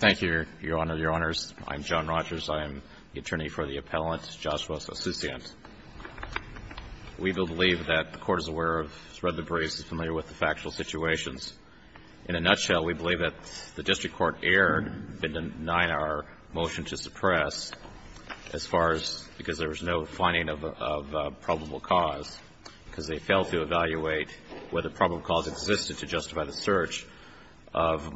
Thank you, Your Honor, Your Honors. I'm John Rogers. I am the attorney for the appellant, Joshua Asuncion. We believe that the Court is aware of, spread the breeze, is familiar with the factual situations. In a nutshell, we believe that the District Court erred in denying our motion to suppress as far as because there was no finding of probable cause, because they failed to evaluate whether probable cause existed to justify the search of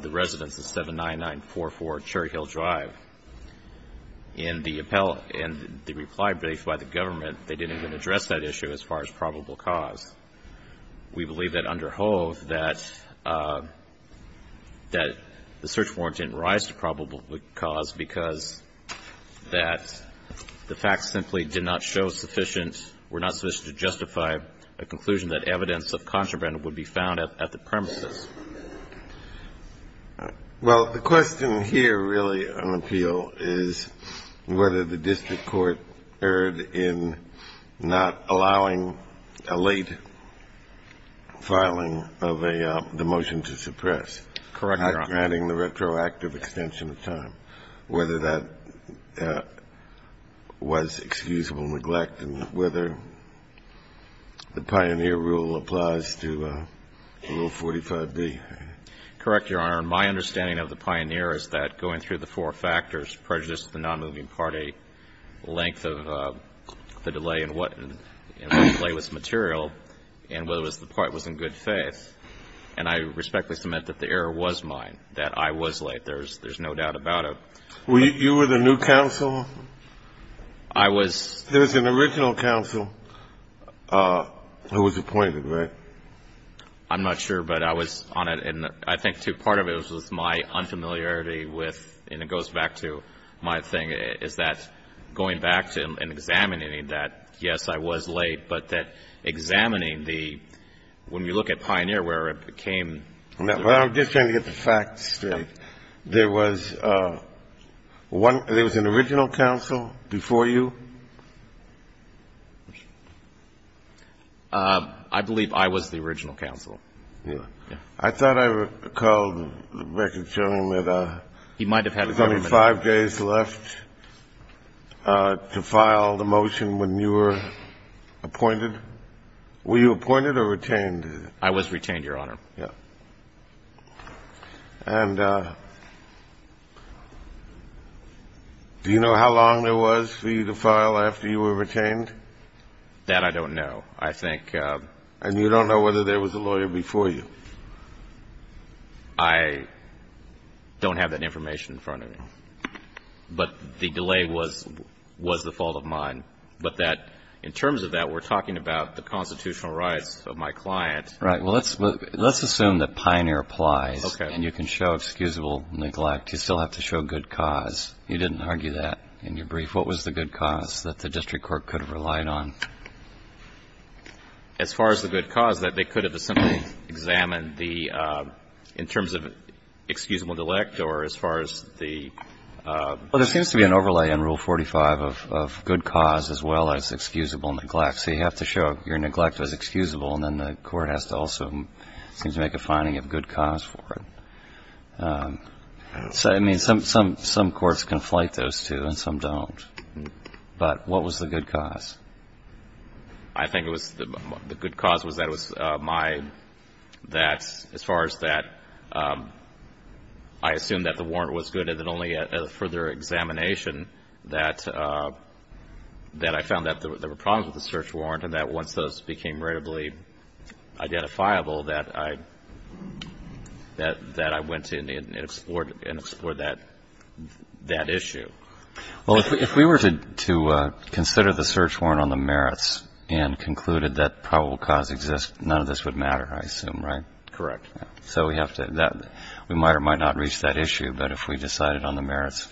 the residents of 79944 Cherry Hill Drive. In the reply brief by the government, they didn't even address that issue as far as probable cause. We believe that under Hove, that the search warrant didn't rise to probable cause because that the facts simply did not show sufficient, were not sufficient to justify a conclusion that evidence of contraband would be found at the premises. Well, the question here, really, on appeal, is whether the District Court erred in not allowing a late filing of a the motion to suppress. Correct, Your Honor. And granting the retroactive extension of time, whether that was excusable neglect, and whether the Pioneer rule applies to Rule 45b. Correct, Your Honor. My understanding of the Pioneer is that going through the four factors, prejudice to the nonmoving party, length of the delay in what the delay was material, and whether the delay was in good faith, and I respectfully submit that the error was mine, that I was late. There's no doubt about it. You were the new counsel? I was. There was an original counsel who was appointed, right? I'm not sure, but I was on it, and I think, too, part of it was my unfamiliarity with, and it goes back to my thing, is that going back to and examining that, yes, I was late, but that examining the, when we look at Pioneer, where it became. Well, I'm just trying to get the facts straight. There was one, there was an original counsel before you? I believe I was the original counsel. I thought I recalled, Rebecca, telling him that there was only five days left to file the motion when you were appointed. Were you appointed or retained? I was retained, Your Honor. And do you know how long there was for you to file after you were retained? That I don't know, I think. And you don't know whether there was a lawyer before you? I don't have that information in front of me. But the delay was the fault of mine. But that, in terms of that, we're talking about the constitutional rights of my client. Right. Well, let's assume that Pioneer applies, and you can show excusable neglect. You still have to show good cause. You didn't argue that in your brief. What was the good cause that the district court could have relied on? As far as the good cause, that they could have simply examined the — in terms of excusable delect, or as far as the — Well, there seems to be an overlay in Rule 45 of good cause as well as excusable neglect. So you have to show your neglect as excusable, and then the court has to also seem to make a finding of good cause for it. I mean, some courts conflate those two, and some don't. But what was the good cause? I think it was — the good cause was that it was my — that, as far as that, I assumed that the warrant was good, and then only at a further examination, that I found that there were problems with the search warrant, and that once those became readily identifiable, that I — that I went in and explored that issue. Well, if we were to consider the search warrant on the merits and concluded that probable cause exists, none of this would matter, I assume, right? Correct. So we have to — that — we might or might not reach that issue, but if we decided on the merits,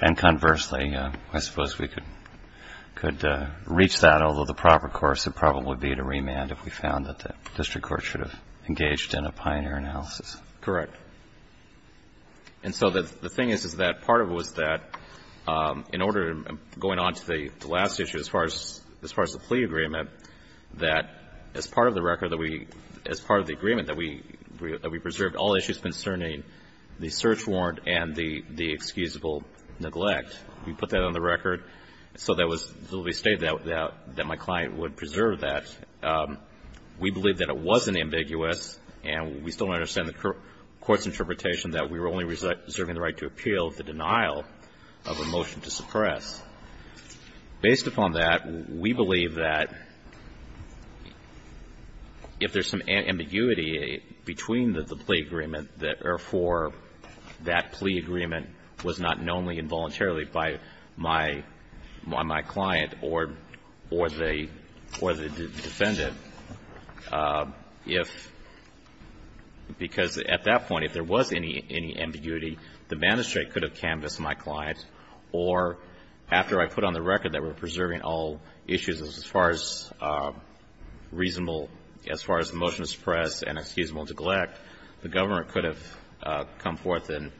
and conversely, I suppose we could reach that, although the proper course would probably be to remand if we found that the district court should have engaged in a pioneer analysis. Correct. And so the thing is, is that part of it was that, in order — going on to the last issue, as far as the plea agreement, that as part of the record that we — as part of the agreement that we preserved all issues concerning the search warrant and the excusable neglect, we put that on the record so that was — so we stated that my client would preserve that. We believe that it wasn't ambiguous, and we still don't understand the court's interpretation that we were only reserving the right to appeal the denial of a motion to suppress. Based upon that, we believe that if there's some ambiguity between the plea agreement, that, therefore, that plea agreement was not known involuntarily by my — by my client or the defendant, if — because at that point, if there was any ambiguity, the magistrate could have canvassed my client, or after I put on the record that we're preserving all issues as far as reasonable — as far as the motion to suppress and excusable neglect, the government could have come forth and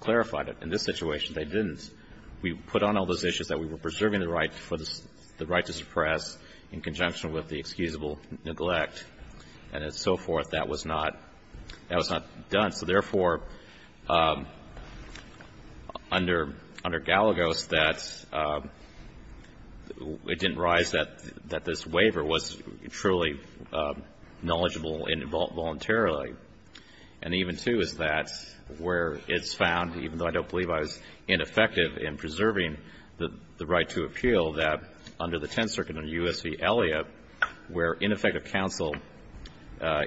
clarified it. In this situation, they didn't. We put on all those issues that we were preserving the right for the — the right to suppress in conjunction with the excusable neglect, and so forth. That was not — that was not done. So, therefore, under — under Galagos, that it didn't rise that — that this waiver was truly knowledgeable involuntarily. And even, too, is that where it's found, even though I don't believe I was ineffective in preserving the right to appeal, that under the Tenth Circuit under U.S. v. Elliott, where ineffective counsel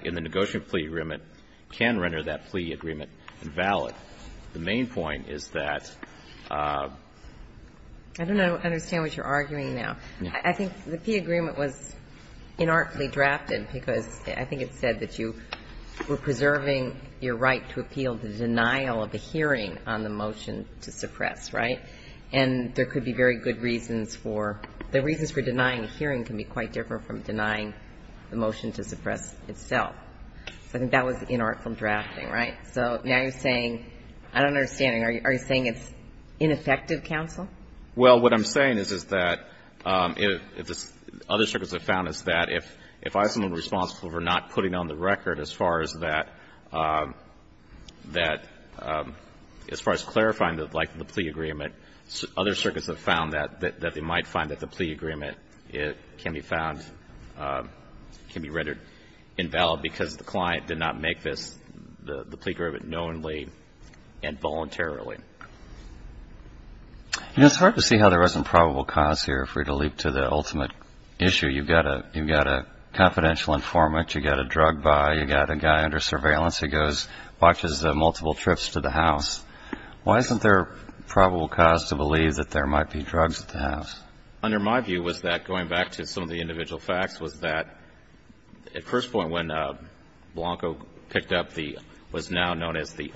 in the negotiating plea agreement can render that plea agreement invalid, the main point is that — I don't understand what you're arguing now. I think the plea agreement was inartfully drafted because I think it said that you were preserving your right to appeal the denial of a hearing on the motion to suppress, right? And there could be very good reasons for — the reasons for denying a hearing can be quite different from denying the motion to suppress itself. So I think that was inartful drafting, right? So now you're saying — I don't understand. Are you saying it's ineffective counsel? Well, what I'm saying is, is that — other circuits have found is that if I was someone who was responsible for not putting on the record as far as that — as far as clarifying the plea agreement, other circuits have found that they might find that the plea agreement can be found — can be rendered invalid because the client did not make this, the plea agreement, knowingly and voluntarily. You know, it's hard to see how there isn't probable cause here. You're free to leap to the ultimate issue. You've got a — you've got a confidential informant, you've got a drug buy, you've got a guy under surveillance who goes — watches multiple trips to the house. Why isn't there probable cause to believe that there might be drugs at the house? Under my view was that, going back to some of the individual facts, was that at first point when Blanco picked up the — what's now known as the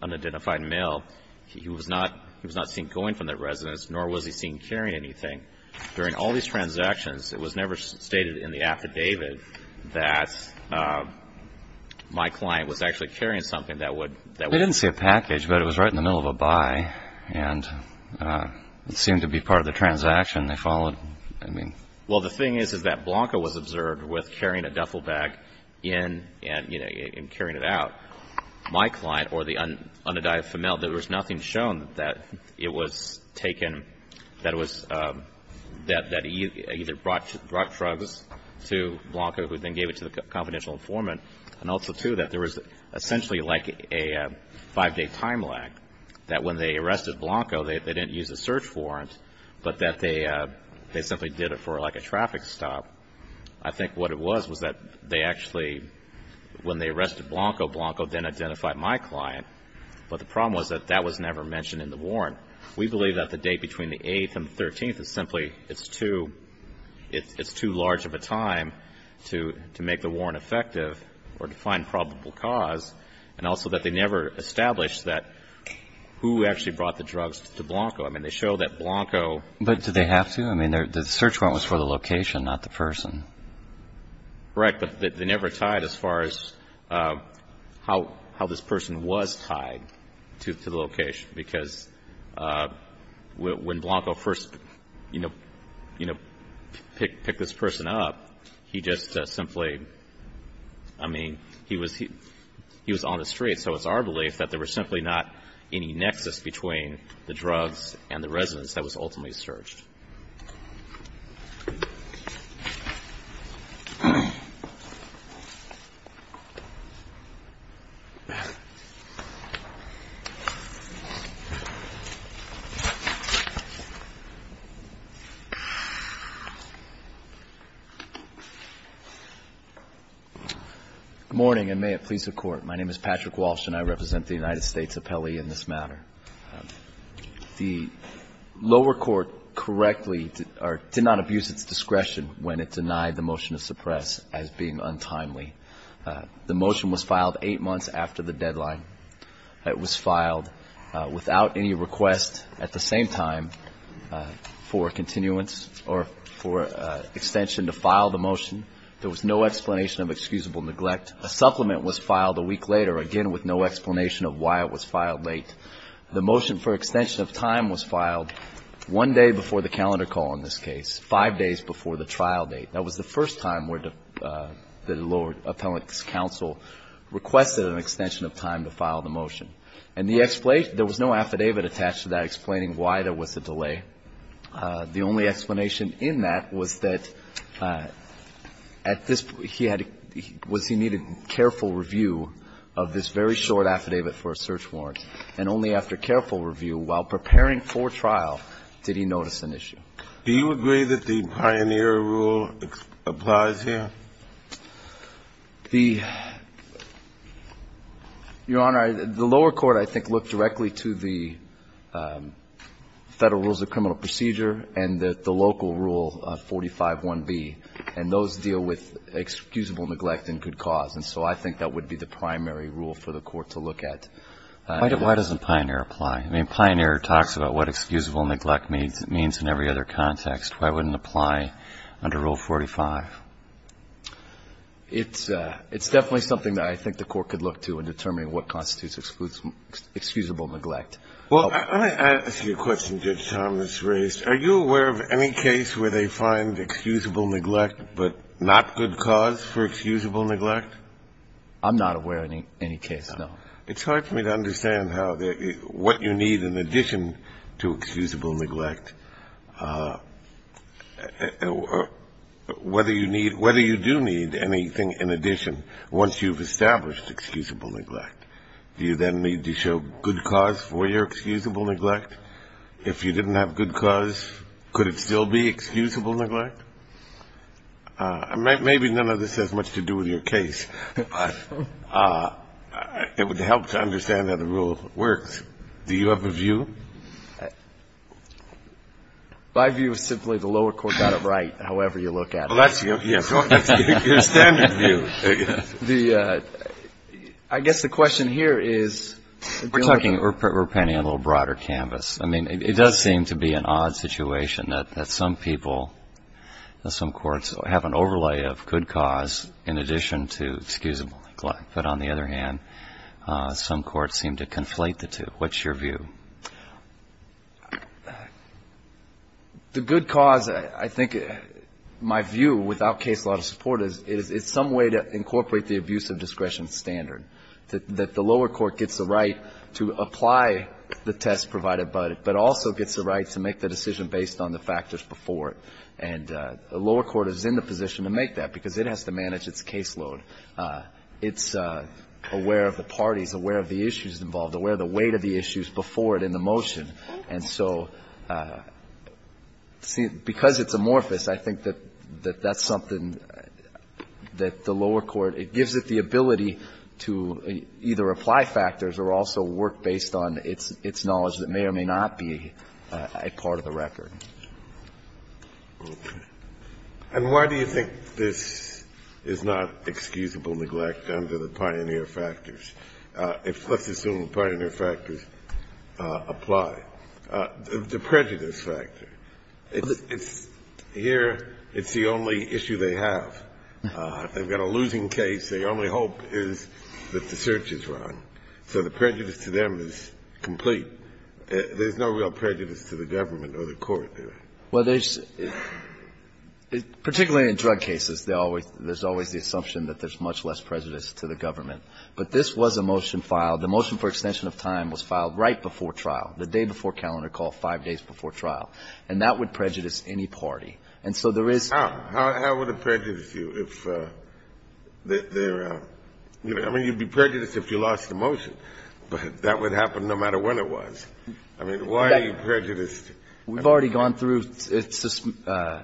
unidentified mail, he was not — he was not seen going from that residence, nor was he seen carrying anything. During all these transactions, it was never stated in the affidavit that my client was actually carrying something that would — They didn't see a package, but it was right in the middle of a buy, and it seemed to be part of the transaction they followed. I mean — Well, the thing is, is that Blanco was observed with carrying a duffel bag in and — you know, and carrying it out. My client, or the unidentified mail, there was nothing shown that it was taken — that it was — that he either brought drugs to Blanco, who then gave it to the confidential informant, and also, too, that there was essentially like a five-day time lag, that when they arrested Blanco, they didn't use a search warrant, but that they simply did it for like a traffic stop. I think what it was was that they actually — Blanco then identified my client, but the problem was that that was never mentioned in the warrant. We believe that the date between the 8th and 13th is simply — it's too — it's too large of a time to make the warrant effective or to find probable cause, and also that they never established that — who actually brought the drugs to Blanco. I mean, they show that Blanco — But did they have to? I mean, the search warrant was for the location, not the person. Right, but they never tied as far as how this person was tied to the location, because when Blanco first, you know, picked this person up, he just simply — I mean, he was on the street, so it's our belief that there was simply not any nexus between the drugs and the residence that was ultimately searched. Good morning, and may it please the Court. My name is Patrick Walsh, and I represent the United States Appellee in this matter. The lower court correctly — or did not abuse its discretion when it denied the motion to suppress as being untimely. The motion was filed eight months after the deadline. It was filed without any request at the same time for continuance or for extension to file the motion. There was no explanation of excusable neglect. A supplement was filed a week later, again, with no explanation of why it was filed late. The motion for extension of time was filed one day before the calendar call in this case, five days before the trial date. That was the first time where the lower appellate's counsel requested an extension of time to file the motion. And the — there was no affidavit attached to that explaining why there was a delay. The only explanation in that was that at this — he had — was he needed careful review of this very short affidavit for a search warrant, and only after careful review, while preparing for trial, did he notice an issue. Do you agree that the Pioneer Rule applies here? The — Your Honor, the lower court, I think, looked directly to the Federal Rules of Criminal Procedure and the local Rule 45.1b. And those deal with excusable neglect and good cause. And so I think that would be the primary rule for the court to look at. Why doesn't Pioneer apply? I mean, Pioneer talks about what excusable neglect means in every other context. Why wouldn't it apply under Rule 45? It's definitely something that I think the court could look to in determining what constitutes excusable neglect. Well, let me ask you a question, Judge Thomas, raised. Are you aware of any case where they find excusable neglect but not good cause for excusable neglect? I'm not aware of any case, no. It's hard for me to understand how — what you need in addition to excusable neglect, whether you need — whether you do need anything in addition once you've established excusable neglect. Do you then need to show good cause for your excusable neglect? If you didn't have good cause, could it still be excusable neglect? Maybe none of this has much to do with your case, but it would help to understand how the rule works. Do you have a view? My view is simply the lower court got it right, however you look at it. Well, that's your — that's your standard view. The — I guess the question here is — We're talking — we're painting a little broader canvas. I mean, it does seem to be an odd situation that some people, some courts, have an overlay of good cause in addition to excusable neglect. But on the other hand, some courts seem to conflate the two. What's your view? The good cause, I think, my view without case law support is it's some way to incorporate the abuse of discretion standard, that the lower court gets the right to apply the test provided by it but also gets the right to make the decision based on the factors before it. And the lower court is in the position to make that because it has to manage its caseload. It's aware of the parties, aware of the issues involved, aware of the weight of the issues before it in the motion. And so because it's amorphous, I think that that's something that the lower court — it gives it the ability to either apply factors or also work based on its knowledge that may or may not be a part of the record. Okay. And why do you think this is not excusable neglect under the pioneer factors? Let's assume the pioneer factors apply. The prejudice factor. Here, it's the only issue they have. They've got a losing case. Their only hope is that the search is wrong. So the prejudice to them is complete. There's no real prejudice to the government or the court there. Well, there's — particularly in drug cases, there's always the assumption that there's much less prejudice to the government. But this was a motion filed. The motion for extension of time was filed right before trial, the day before calendar call, five days before trial. And that would prejudice any party. And so there is — How would it prejudice you if they're — I mean, you'd be prejudiced if you lost the motion. But that would happen no matter when it was. I mean, why are you prejudiced? We've already gone through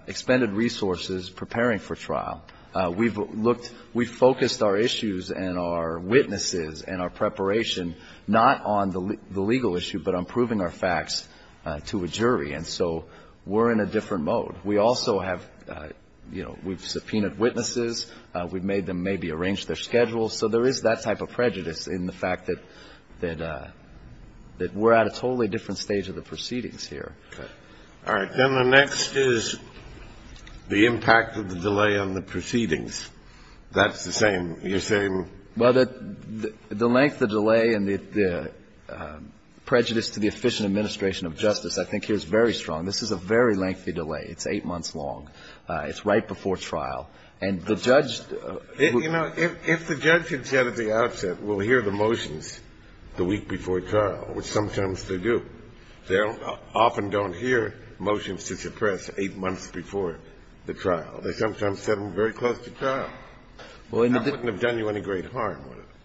expended resources preparing for trial. We've looked — we've focused our issues and our witnesses and our preparation not on the legal issue, but on proving our facts to a jury. And so we're in a different mode. We also have — you know, we've subpoenaed witnesses. We've made them maybe arrange their schedules. So there is that type of prejudice in the fact that we're at a totally different stage of the proceedings here. All right. Then the next is the impact of the delay on the proceedings. That's the same — you're saying — Well, the length of delay and the prejudice to the efficient administration of justice I think here is very strong. This is a very lengthy delay. It's eight months long. It's right before trial. And the judge — You know, if the judge had said at the outset, we'll hear the motions the week before trial, which sometimes they do. They often don't hear motions to suppress eight months before the trial. They sometimes set them very close to trial. That wouldn't have done you any great harm.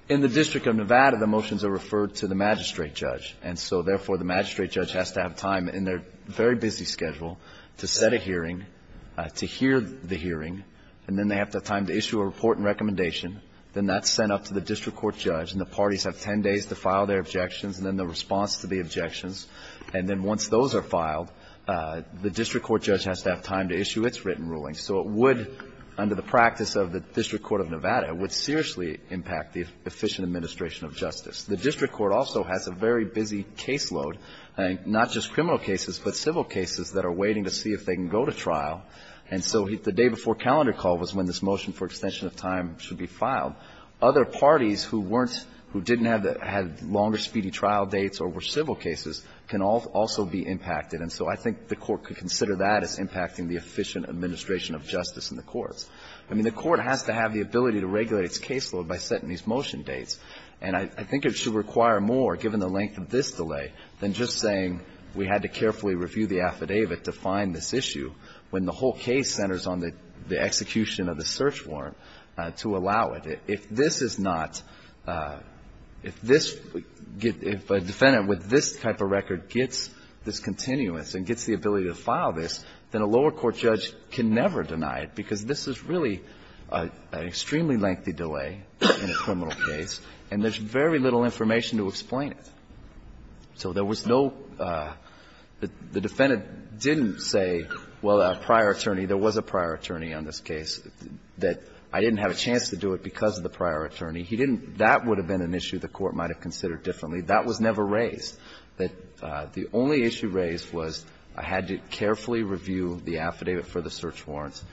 In the District of Nevada, the motions are referred to the magistrate judge. And so, therefore, the magistrate judge has to have time in their very busy schedule to set a hearing, to hear the hearing. And then they have to have time to issue a report and recommendation. Then that's sent up to the district court judge. And the parties have ten days to file their objections and then the response to the objections. And then once those are filed, the district court judge has to have time to issue its written ruling. So it would, under the practice of the District Court of Nevada, it would seriously impact the efficient administration of justice. The district court also has a very busy caseload, not just criminal cases, but civil cases that are waiting to see if they can go to trial. And so the day before calendar call was when this motion for extension of time should be filed. Other parties who weren't, who didn't have longer speedy trial dates or were civil cases can also be impacted. And so I think the Court could consider that as impacting the efficient administration of justice in the courts. I mean, the Court has to have the ability to regulate its caseload by setting these motion dates. And I think it should require more, given the length of this delay, than just saying we had to carefully review the affidavit to find this issue when the whole case centers on the execution of the search warrant to allow it. If this is not, if this, if a defendant with this type of record gets this continuous and gets the ability to file this, then a lower court judge can never deny it So there was no, the defendant didn't say, well, a prior attorney, there was a prior attorney on this case, that I didn't have a chance to do it because of the prior attorney. He didn't, that would have been an issue the Court might have considered differently. That was never raised. The only issue raised was I had to carefully review the affidavit for the search warrants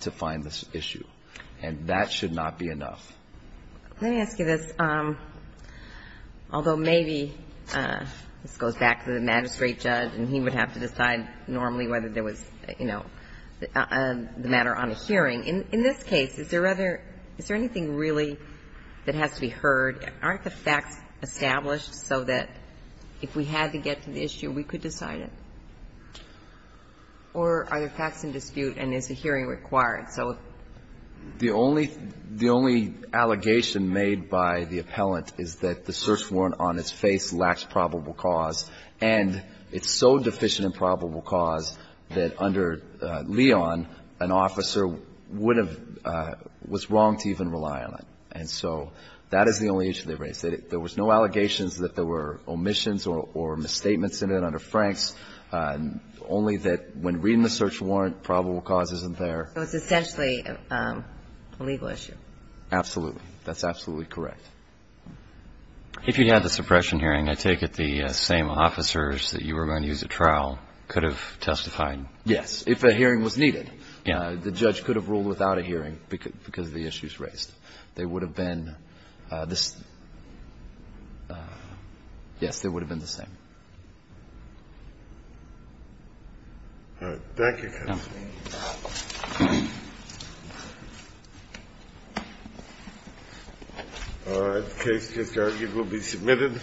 to find the search warrant. definition that prove that we face a shortage of information on this issue. And that should not be enough. Let me ask you this. Although maybe, and this goes back to the magistrate judge and he would have to decide normally whether there was, you know, the matter on a hearing. In this case, is there rather, is there anything really that has to be heard? Aren't the facts established so that if we had to get to the issue, we could decide it? Or are there facts in dispute and is a hearing required? So if the only, the only allegation made by the appellant is that the search warrant on its face lacks probable cause and it's so deficient in probable cause that under Leon, an officer, would have, was wrong to even rely on it. And so that is the only issue they raised. There was no allegations that there were omissions or misstatements in it under Franks, only that when reading the search warrant, probable cause isn't there. So it's essentially a legal issue. Absolutely. That's absolutely correct. If you had the suppression hearing, I take it the same officers that you were going to use at trial could have testified? Yes. If a hearing was needed. Yeah. The judge could have ruled without a hearing because of the issues raised. They would have been, yes, they would have been the same. All right. Thank you, counsel. All right. The case is argued and will be submitted.